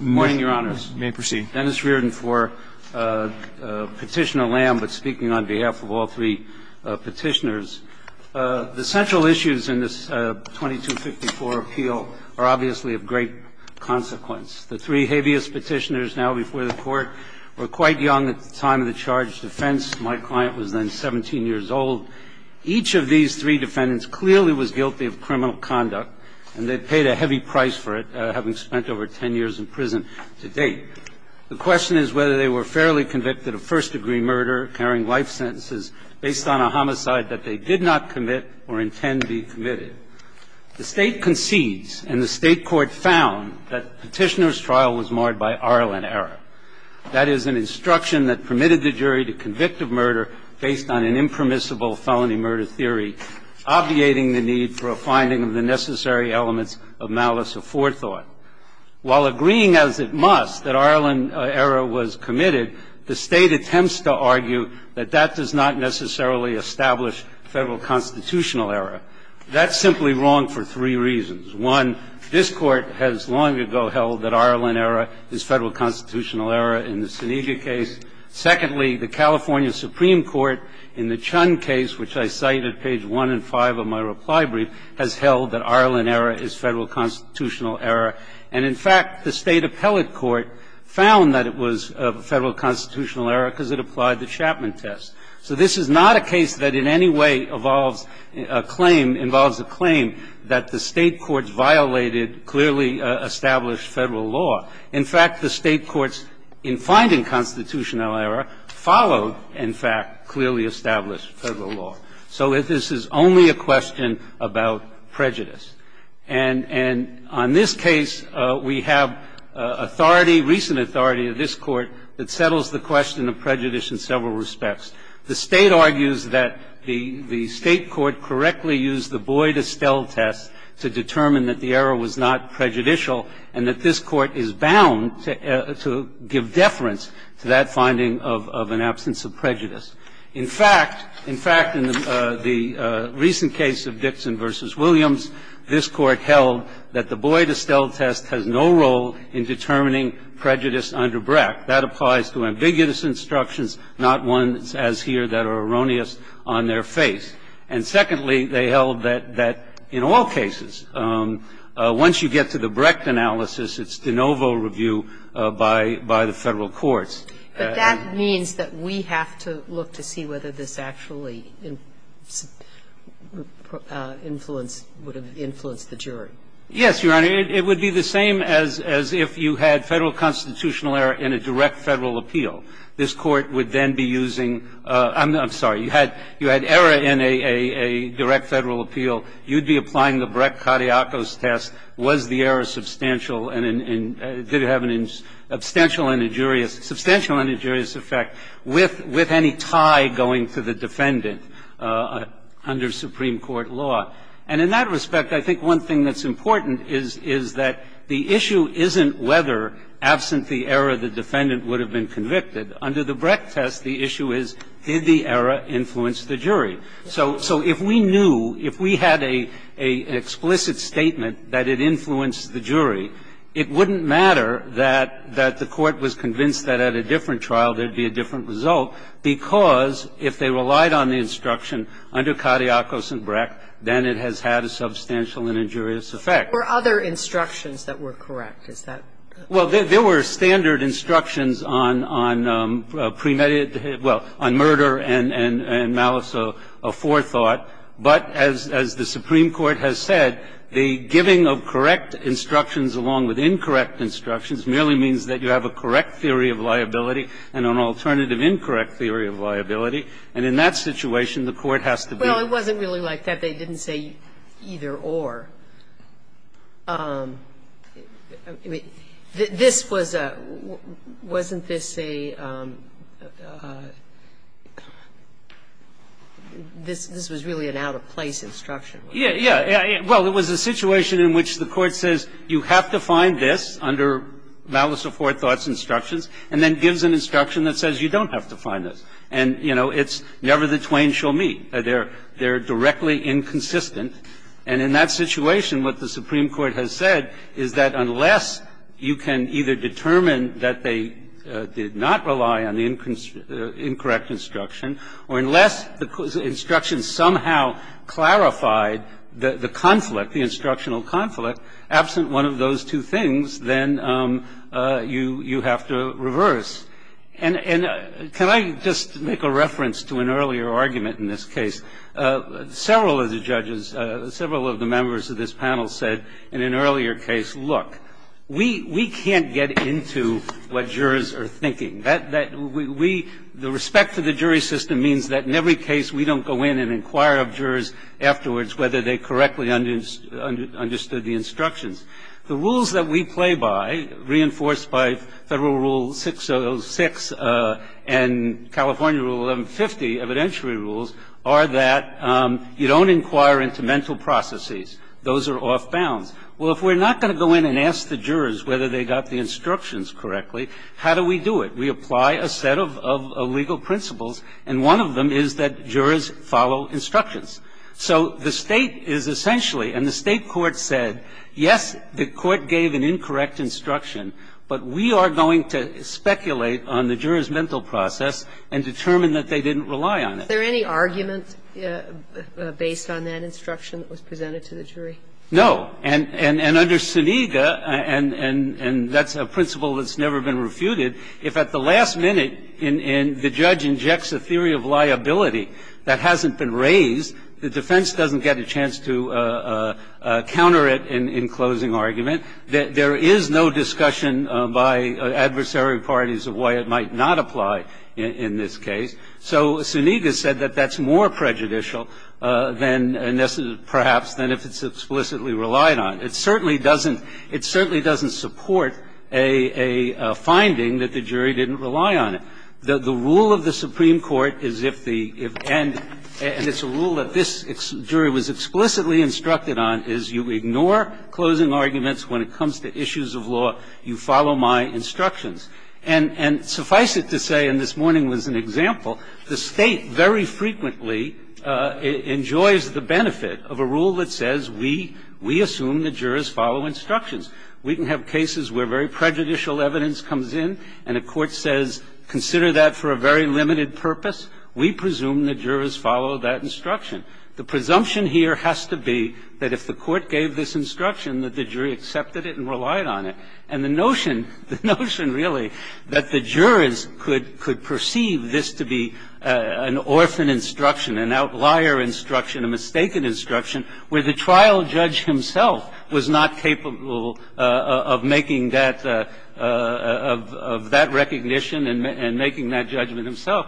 Morning, Your Honors. You may proceed. Dennis Reardon for Petitioner Lam, but speaking on behalf of all three petitioners. The central issues in this 2254 appeal are obviously of great consequence. The three habeas petitioners now before the Court were quite young at the time of the charge of defense. My client was then 17 years old. Each of these three defendants clearly was guilty of criminal conduct, and they paid a heavy price for it, having spent over 10 years in prison to date. The question is whether they were fairly convicted of first-degree murder, carrying life sentences based on a homicide that they did not commit or intend to be committed. The State concedes, and the State court found that the petitioner's trial was marred by Arlen error. That is, an instruction that permitted the jury to convict of murder based on an impermissible felony murder theory, obviating the need for a finding of the necessary elements of malice or forethought. While agreeing as it must that Arlen error was committed, the State attempts to argue that that does not necessarily establish Federal constitutional error. That's simply wrong for three reasons. One, this Court has long ago held that Arlen error is Federal constitutional error in the Senega case. Secondly, the California Supreme Court in the Chun case, which I cite at page 1 and 5 of my reply brief, has held that Arlen error is Federal constitutional error. And, in fact, the State appellate court found that it was Federal constitutional error because it applied the Chapman test. So this is not a case that in any way involves a claim that the State courts violated clearly established Federal law. In fact, the State courts, in finding constitutional error, followed, in fact, clearly established Federal law. So this is only a question about prejudice. And on this case, we have authority, recent authority of this Court that settles the question of prejudice in several respects. The State argues that the State court correctly used the Boyd-Estell test to determine that the error was not prejudicial and that this Court is bound to give deference to that finding of an absence of prejudice. In fact, in fact, in the recent case of Dixon v. Williams, this Court held that the Boyd-Estell test has no role in determining prejudice under BRAC. That applies to ambiguous instructions, not ones as here that are erroneous on their face. And secondly, they held that in all cases, once you get to the BRAC analysis, it's de novo review by the Federal courts. But that means that we have to look to see whether this actually would have influenced the jury. Yes, Your Honor. It would be the same as if you had Federal constitutional error in a direct Federal appeal. This Court would then be using – I'm sorry. You had error in a direct Federal appeal. You'd be applying the BRAC-Cadillacos test. Was the error substantial and did it have an substantial and injurious effect with any tie going to the defendant under Supreme Court law? And in that respect, I think one thing that's important is that the issue isn't whether, absent the error, the defendant would have been convicted. Under the BRAC test, the issue is did the error influence the jury. So if we knew, if we had an explicit statement that it influenced the jury, it wouldn't matter that the Court was convinced that at a different trial there'd be a different result, because if they relied on the instruction under Cadillacos and BRAC, then it has had a substantial and injurious effect. There were other instructions that were correct. Is that correct? Well, there were standard instructions on premeditated – well, on murder and malice of forethought, but as the Supreme Court has said, the giving of correct instructions along with incorrect instructions merely means that you have a correct theory of liability and an alternative incorrect theory of liability, and in that situation, the Court has to be – Well, it wasn't really like that. They didn't say either or. This was a – wasn't this a – this was really an out-of-place instruction. Yeah. Yeah. Well, it was a situation in which the Court says you have to find this under malice of forethought instructions, and then gives an instruction that says you don't have to find this. And, you know, it's never the twain shall meet. They're directly inconsistent. And in that situation, what the Supreme Court has said is that unless you can either determine that they did not rely on the incorrect instruction, or unless the instruction somehow clarified the conflict, the instructional conflict, absent one of those two things, then you have to reverse. And can I just make a reference to an earlier argument in this case? Several of the judges, several of the members of this panel said in an earlier case, look, we can't get into what jurors are thinking. We – the respect to the jury system means that in every case, we don't go in and inquire of jurors afterwards whether they correctly understood the instructions. The rules that we play by, reinforced by Federal Rule 606 and California Rule 1150 evidentiary rules, are that you don't inquire into mental processes. Those are off bounds. Well, if we're not going to go in and ask the jurors whether they got the instructions correctly, how do we do it? We apply a set of legal principles, and one of them is that jurors follow instructions. So the State is essentially – and the State court said, yes, the court gave an incorrect instruction, but we are going to speculate on the jurors' mental process and determine that they didn't rely on it. Is there any argument based on that instruction that was presented to the jury? No. And under Senega, and that's a principle that's never been refuted, if at the last minute the judge injects a theory of liability that hasn't been raised, the defense doesn't get a chance to counter it in closing argument. There is no discussion by adversary parties of why it might not apply in this case. So Senega said that that's more prejudicial than, perhaps, than if it's explicitly relied on. It certainly doesn't support a finding that the jury didn't rely on it. The rule of the Supreme Court is if the – and it's a rule that this jury was explicitly instructed on, is you ignore closing arguments when it comes to issues of law, you follow my instructions. And suffice it to say, and this morning was an example, the State very frequently enjoys the benefit of a rule that says we assume the jurors follow instructions. We can have cases where very prejudicial evidence comes in, and a court says consider that for a very limited purpose. We presume the jurors follow that instruction. The presumption here has to be that if the court gave this instruction, that the jury accepted it and relied on it. And the notion, the notion really, that the jurors could perceive this to be an orphan instruction, an outlier instruction, a mistaken instruction, where the trial judge himself was not capable of making that – of that recognition and making that judgment himself,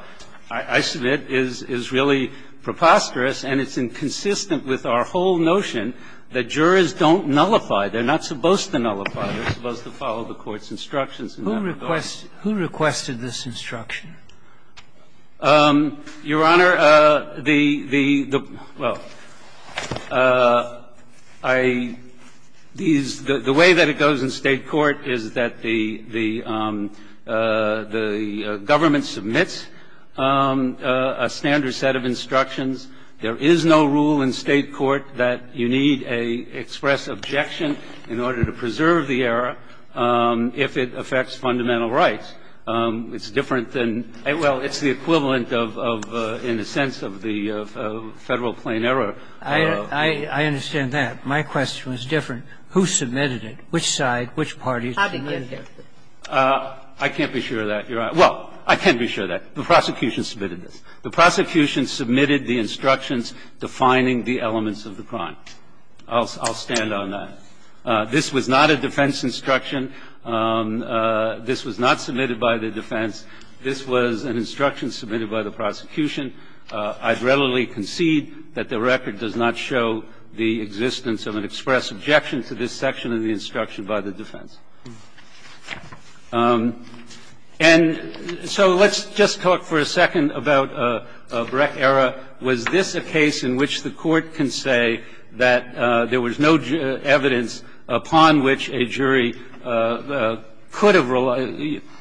I submit, is really preposterous, and it's inconsistent with our whole notion that jurors don't nullify. They're not supposed to nullify. They're supposed to follow the court's instructions in that regard. Sotomayor, who requested this instruction? Your Honor, the – the – well, I – these – the way that it goes in State court is that the – the government submits a standard set of instructions. There is no rule in State court that you need a express objection in order to preserve the error if it affects fundamental rights. It's different than – well, it's the equivalent of – of, in a sense, of the Federal plain error. I – I understand that. My question was different. Who submitted it? Which side? Which parties? How did you get here? I can't be sure of that, Your Honor. Well, I can be sure of that. The prosecution submitted this. The prosecution submitted the instructions defining the elements of the crime. I'll stand on that. This was not a defense instruction. This was not submitted by the defense. This was an instruction submitted by the prosecution. I readily concede that the record does not show the existence of an express objection to this section of the instruction by the defense. And so let's just talk for a second about Breck error. Was this a case in which the Court can say that there was no evidence upon which a jury could have relied –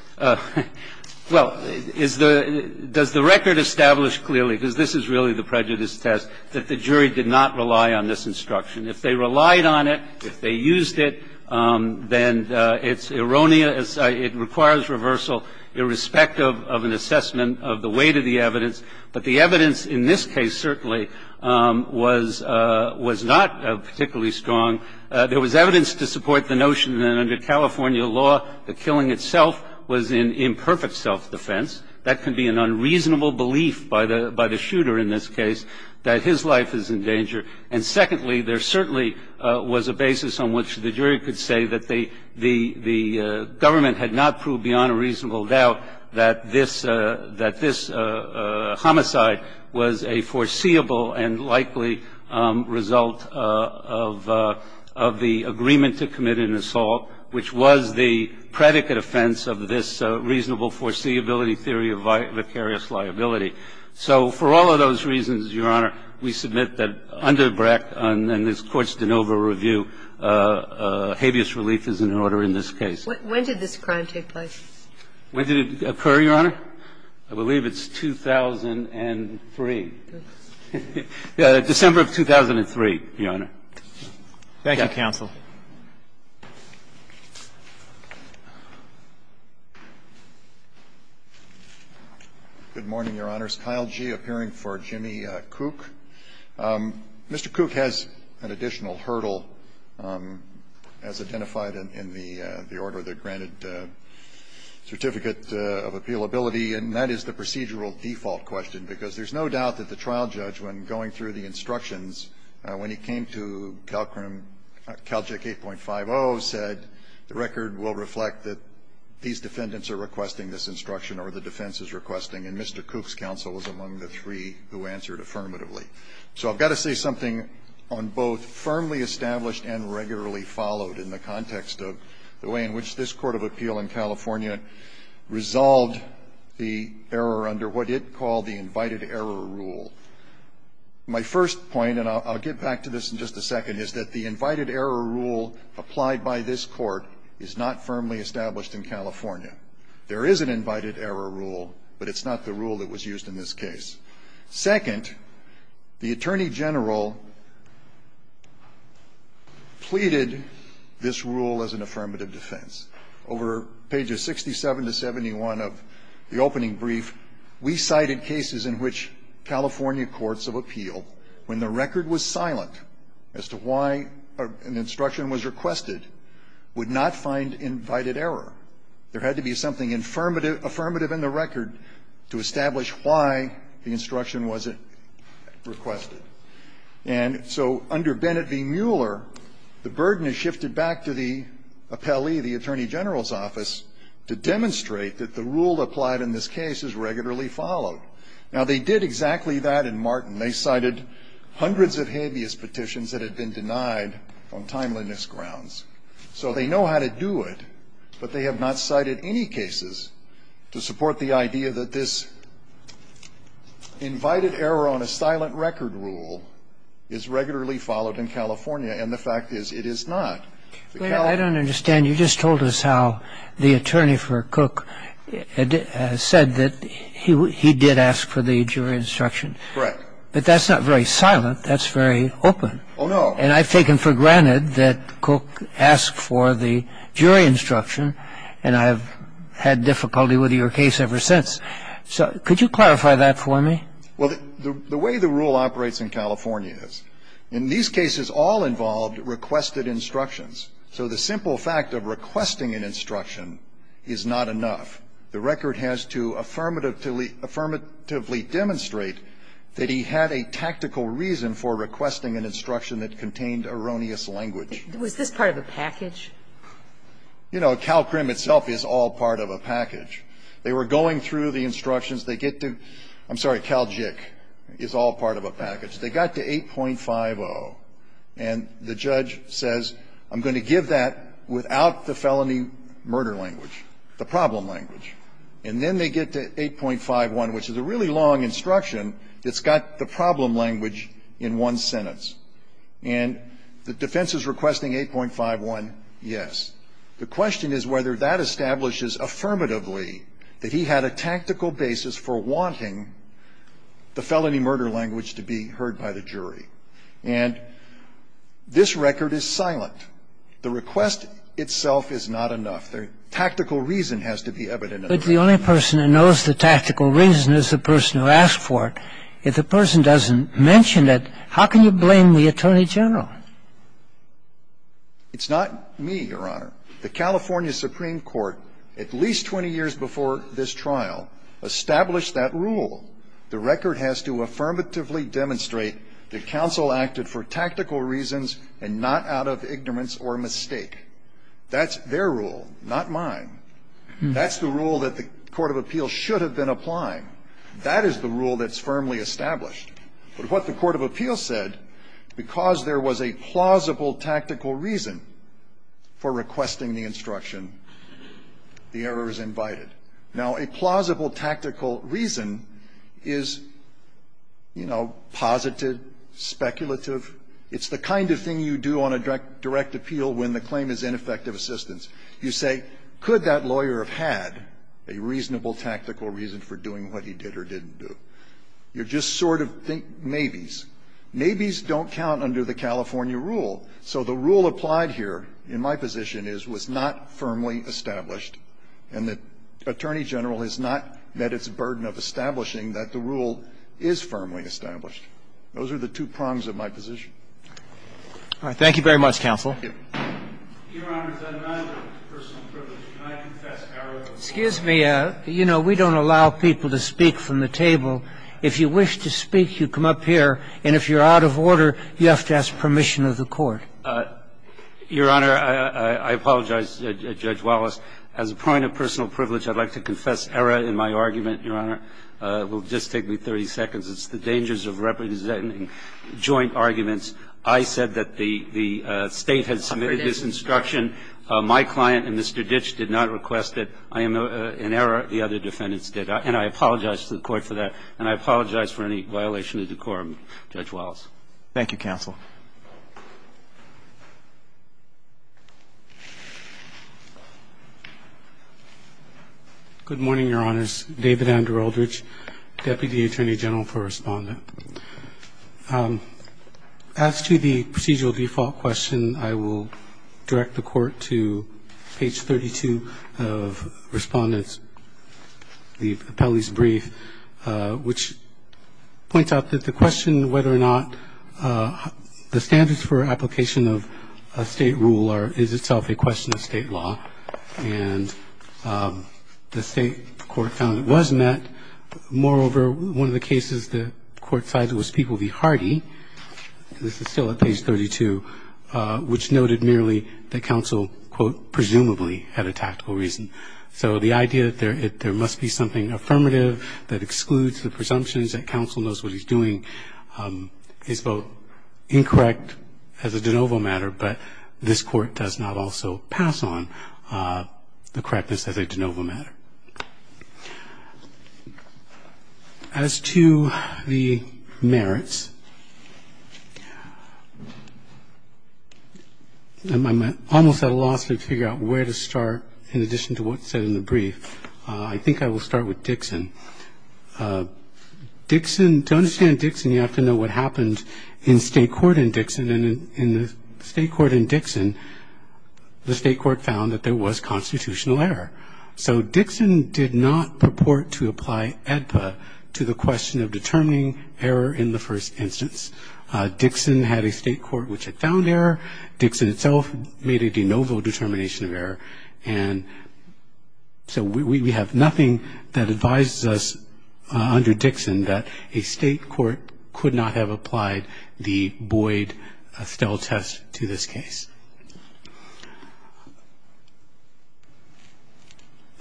well, is the – does the record establish clearly, because this is really the prejudice test, that the jury did not rely on this instruction? If they relied on it, if they used it, then it's – it requires reversal irrespective of an assessment of the weight of the evidence. But the evidence in this case certainly was – was not particularly strong. There was evidence to support the notion that under California law, the killing itself was in imperfect self-defense. That can be an unreasonable belief by the – by the shooter in this case that his life is in danger. And secondly, there certainly was a basis on which the jury could say that they – the government had not proved beyond a reasonable doubt that this – that this homicide was a foreseeable and likely result of – of the agreement to commit an assault, which was the predicate offense of this reasonable foreseeability theory of vicarious liability. So for all of those reasons, Your Honor, we submit that under Breck and this Court's de novo review, habeas relief is in order in this case. When did this crime take place? When did it occur, Your Honor? I believe it's 2003. December of 2003, Your Honor. Thank you, counsel. Good morning, Your Honors. Kyle Gee appearing for Jimmy Cook. Mr. Cook has an additional hurdle as identified in the order of the granted Certificate of Appealability, and that is the procedural default question, because there's no doubt that the trial judge, when going through the instructions, when he came to Calcrim – Calgic 8.50, said the record will reflect that these defendants are requesting this instruction or the defense is requesting. And Mr. Cook's counsel was among the three who answered affirmatively. So I've got to say something on both firmly established and regularly followed in the context of the way in which this Court of Appeal in California resolved the error under what it called the Invited Error Rule. My first point, and I'll get back to this in just a second, is that the Invited Error Rule applied by this Court is not firmly established in California. There is an Invited Error Rule, but it's not the rule that was used in this case. Second, the Attorney General pleaded this rule as an affirmative defense. Over pages 67 to 71 of the opening brief, we cited cases in which California courts of appeal, when the record was silent as to why an instruction was requested, would not find invited error. There had to be something affirmative in the record to establish why the instruction wasn't requested. And so under Bennett v. Mueller, the burden is shifted back to the appellee, the Attorney General's office, to demonstrate that the rule applied in this case is regularly followed. Now, they did exactly that in Martin. They cited hundreds of habeas petitions that had been denied on timeliness grounds. So they know how to do it, but they have not cited any cases to support the idea that this Invited Error on a Silent Record Rule is regularly followed in California, and the fact is, it is not. The California Court of Appeals does not do that. I don't understand. You just told us how the attorney for Cook said that he did ask for the jury instruction. Correct. But that's not very silent. That's very open. Oh, no. And I've taken for granted that Cook asked for the jury instruction, and I've had difficulty with your case ever since. So could you clarify that for me? Well, the way the rule operates in California is, in these cases, all involved requested instructions. So the simple fact of requesting an instruction is not enough. The record has to affirmatively demonstrate that he had a tactical reason for requesting an instruction that contained erroneous language. Was this part of a package? You know, CalCrim itself is all part of a package. They were going through the instructions. They get to the – I'm sorry, CalJIC is all part of a package. They got to 8.50, and the judge says, I'm going to give that without the felony murder language, the problem language. And then they get to 8.51, which is a really long instruction that's got the problem language in one sentence. And the defense is requesting 8.51, yes. The question is whether that establishes affirmatively that he had a tactical basis for wanting the felony murder language to be heard by the jury. And this record is silent. The request itself is not enough. The tactical reason has to be evident. But the only person who knows the tactical reason is the person who asked for it. If the person doesn't mention it, how can you blame the Attorney General? It's not me, Your Honor. The California Supreme Court, at least 20 years before this trial, established that rule. The record has to affirmatively demonstrate that counsel acted for tactical reasons and not out of ignorance or mistake. That's their rule, not mine. That's the rule that the court of appeals should have been applying. That is the rule that's firmly established. But what the court of appeals said, because there was a plausible tactical reason for requesting the instruction, the error is invited. Now, a plausible tactical reason is, you know, positive, speculative. It's the kind of thing you do on a direct appeal when the claim is ineffective assistance. You say, could that lawyer have had a reasonable tactical reason for doing what he did or didn't do? You just sort of think maybes. Maybes don't count under the California rule. So the rule applied here, in my position, is was not firmly established, and the Attorney General has not met its burden of establishing that the rule is firmly established. Those are the two prongs of my position. Roberts. Thank you very much, counsel. Your Honor, as a reminder of personal privilege, can I confess error in my argument? Excuse me. You know, we don't allow people to speak from the table. If you wish to speak, you come up here, and if you're out of order, you have to ask permission of the court. Your Honor, I apologize, Judge Wallace. As a point of personal privilege, I'd like to confess error in my argument, Your Honor. It will just take me 30 seconds. It's the dangers of representing joint arguments. I said that the State had submitted this instruction. My client and Mr. Ditch did not request it. I am in error. The other defendants did. And I apologize to the Court for that. And I apologize for any violation of decorum, Judge Wallace. Thank you, counsel. Good morning, Your Honors. David Andrew Aldrich, Deputy Attorney General for Respondent. As to the procedural default question, I will direct the Court to page 32 of Respondent Apelli's brief, which points out that the question whether or not the standards for application of a State rule is itself a question of State law, and the State Court found it was met. Moreover, one of the cases the Court cited was People v. Hardy. This is still at page 32, which noted merely that counsel, quote, presumably had a tactical reason. So the idea that there must be something affirmative that excludes the presumptions that counsel knows what he's doing is both incorrect as a de novo matter, but this Court does not also pass on the correctness as a de novo matter. As to the merits, I'm almost at a loss to figure out where to start in addition to what's said in the brief. I think I will start with Dixon. Dixon, to understand Dixon, you have to know what happened in State court in Dixon. And in the State court in Dixon, the State court found that there was constitutional error. So Dixon did not purport to apply AEDPA to the question of determining error in the first instance. Dixon had a State court which had found error. Dixon itself made a de novo determination of error. And so we have nothing that advises us under Dixon that a State court could not have applied the Boyd-Stell test to this case.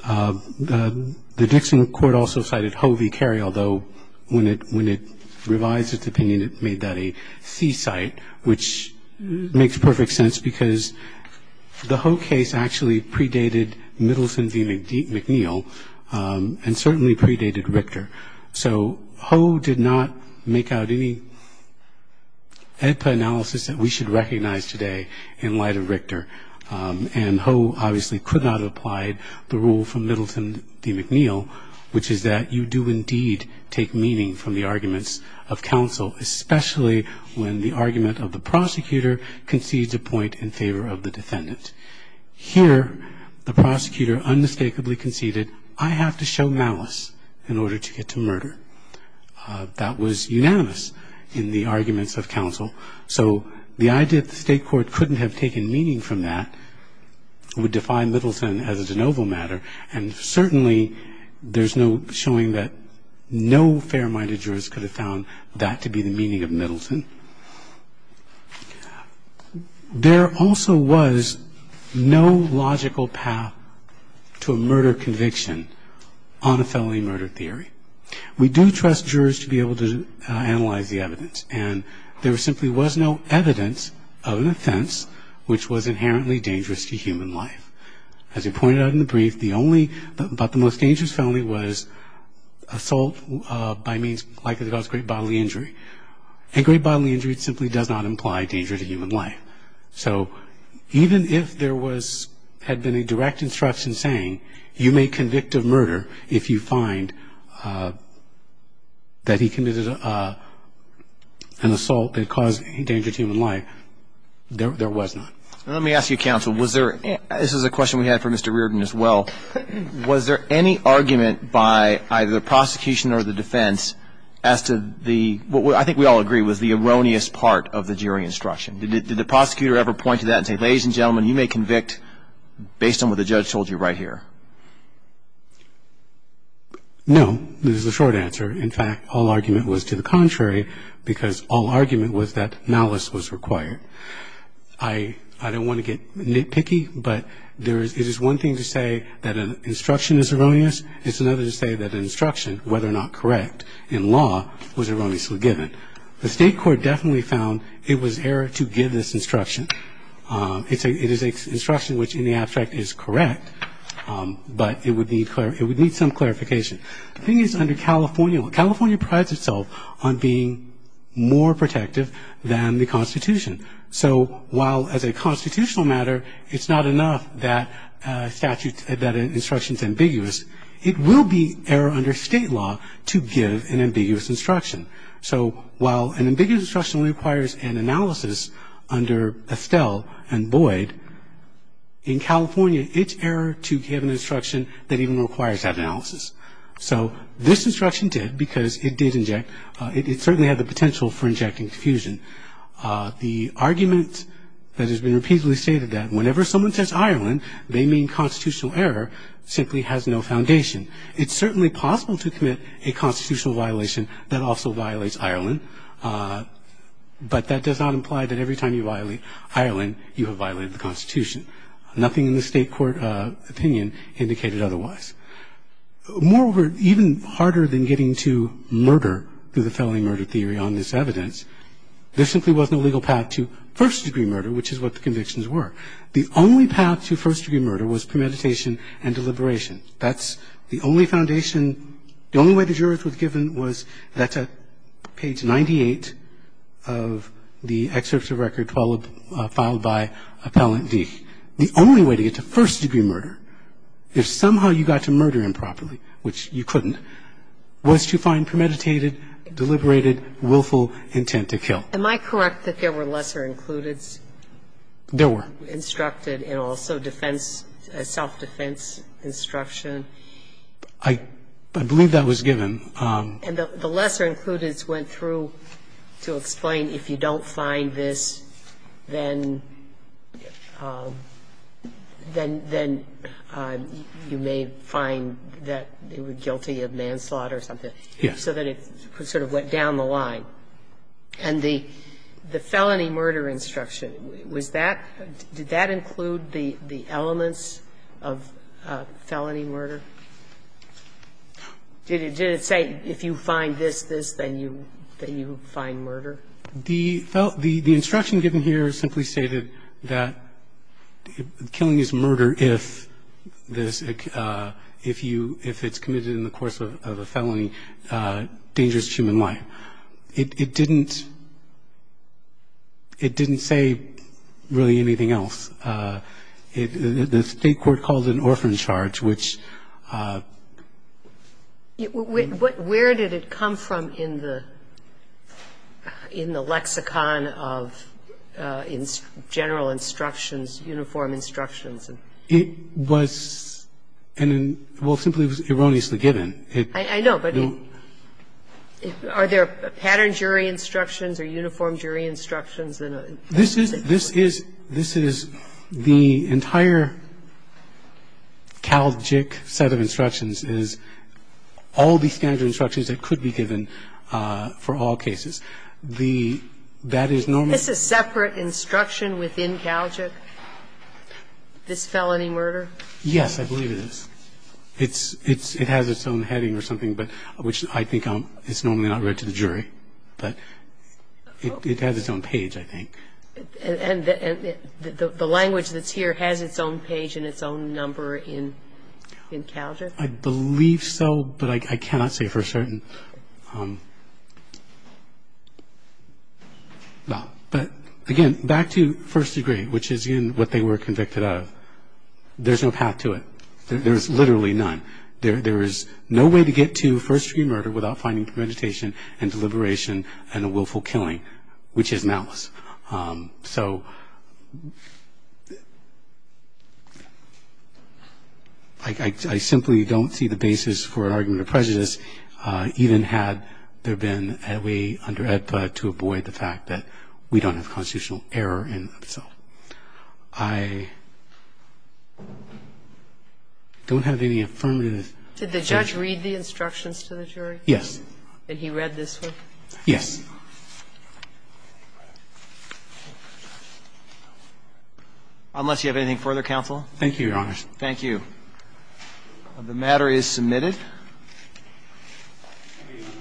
The Dixon court also cited Ho v. Carey, although when it revised its opinion, it made that a C-site, which makes perfect sense because the Ho case actually predated Middleton v. McNeil and certainly predated Richter. So Ho did not make out any AEDPA analysis that we should recognize today. And Ho obviously could not have applied the rule from Middleton v. McNeil, which is that you do indeed take meaning from the arguments of counsel, especially when the argument of the prosecutor concedes a point in favor of the defendant. Here, the prosecutor unmistakably conceded, I have to show malice in order to get to murder. That was unanimous in the arguments of counsel. So the idea that the State court couldn't have taken meaning from that would define Middleton as a de novo matter, and certainly there's no showing that no fair-minded jurist could have found that to be the meaning of Middleton. There also was no logical path to a murder conviction on a felony murder theory. We do trust jurors to be able to analyze the evidence. And there simply was no evidence of an offense which was inherently dangerous to human life. As we pointed out in the brief, the only but the most dangerous felony was assault by means likely to cause great bodily injury, and great bodily injury simply does not imply danger to human life. So even if there had been a direct instruction saying, you may convict of murder if you find that he committed an assault that caused danger to human life, there was not. Let me ask you, counsel, was there, this is a question we had for Mr. Reardon as well, was there any argument by either the prosecution or the defense as to the, I think we all agree, was the erroneous part of the jury instruction. Did the prosecutor ever point to that and say, ladies and gentlemen, you may convict based on what the judge told you right here? No. This is a short answer. In fact, all argument was to the contrary because all argument was that malice was required. I don't want to get nitpicky, but it is one thing to say that an instruction is erroneous. It's another to say that an instruction, whether or not correct in law, was erroneously given. The state court definitely found it was error to give this instruction. It is an instruction which in the abstract is correct, but it would need some clarification. The thing is under California, California prides itself on being more protective than the Constitution. So while as a constitutional matter it's not enough that an instruction is ambiguous, it will be error under state law to give an ambiguous instruction. So while an ambiguous instruction requires an analysis under Estelle and Boyd, in California it's error to give an instruction that even requires that analysis. So this instruction did because it did inject, it certainly had the potential for injecting confusion. The argument that has been repeatedly stated that whenever someone says Ireland, they mean constitutional error, simply has no foundation. It's certainly possible to commit a constitutional violation that also violates Ireland, but that does not imply that every time you violate Ireland, you have violated the Constitution. Nothing in the state court opinion indicated otherwise. Moreover, even harder than getting to murder through the felony murder theory on this evidence, there simply was no legal path to first-degree murder, which is what the convictions were. The only path to first-degree murder was premeditation and deliberation. That's the only foundation. The only way the jurors were given was that page 98 of the excerpt of record filed by Appellant D. The only way to get to first-degree murder, if somehow you got to murder improperly, which you couldn't, was to find premeditated, deliberated, willful intent to kill. Am I correct that there were lesser included? There were. And also self-defense instruction. I believe that was given. And the lesser included went through to explain if you don't find this, then you may find that they were guilty of manslaughter or something. Yes. So that it sort of went down the line. And the felony murder instruction, was that – did that include the elements of felony murder? Did it say if you find this, this, then you find murder? The instruction given here simply stated that killing is murder if this – if you – if it's committed in the course of a felony, dangerous to human life. It didn't – it didn't say really anything else. The State court called it an orphan charge, which – Where did it come from in the lexicon of general instructions, uniform instructions? It was – well, simply it was erroneously given. I know, but are there pattern jury instructions or uniform jury instructions? This is – this is the entire Calgic set of instructions is all these kinds of instructions that could be given for all cases. The – that is normal. Is this a separate instruction within Calgic? This felony murder? Yes, I believe it is. It's – it has its own heading or something, but – which I think it's normally not read to the jury. But it has its own page, I think. And the language that's here has its own page and its own number in Calgic? I believe so, but I cannot say for certain. But, again, back to first degree, which is, again, what they were convicted of. There's no path to it. There is literally none. There is no way to get to first degree murder without finding premeditation and deliberation and a willful killing, which is malice. So I simply don't see the basis for an argument of prejudice, even had there been a way under AEDPA to avoid the fact that we don't have constitutional error in itself. I don't have any affirmative judgment. Did the judge read the instructions to the jury? Yes. And he read this one? Yes. Unless you have anything further, counsel? Thank you, Your Honor. Thank you. The matter is submitted.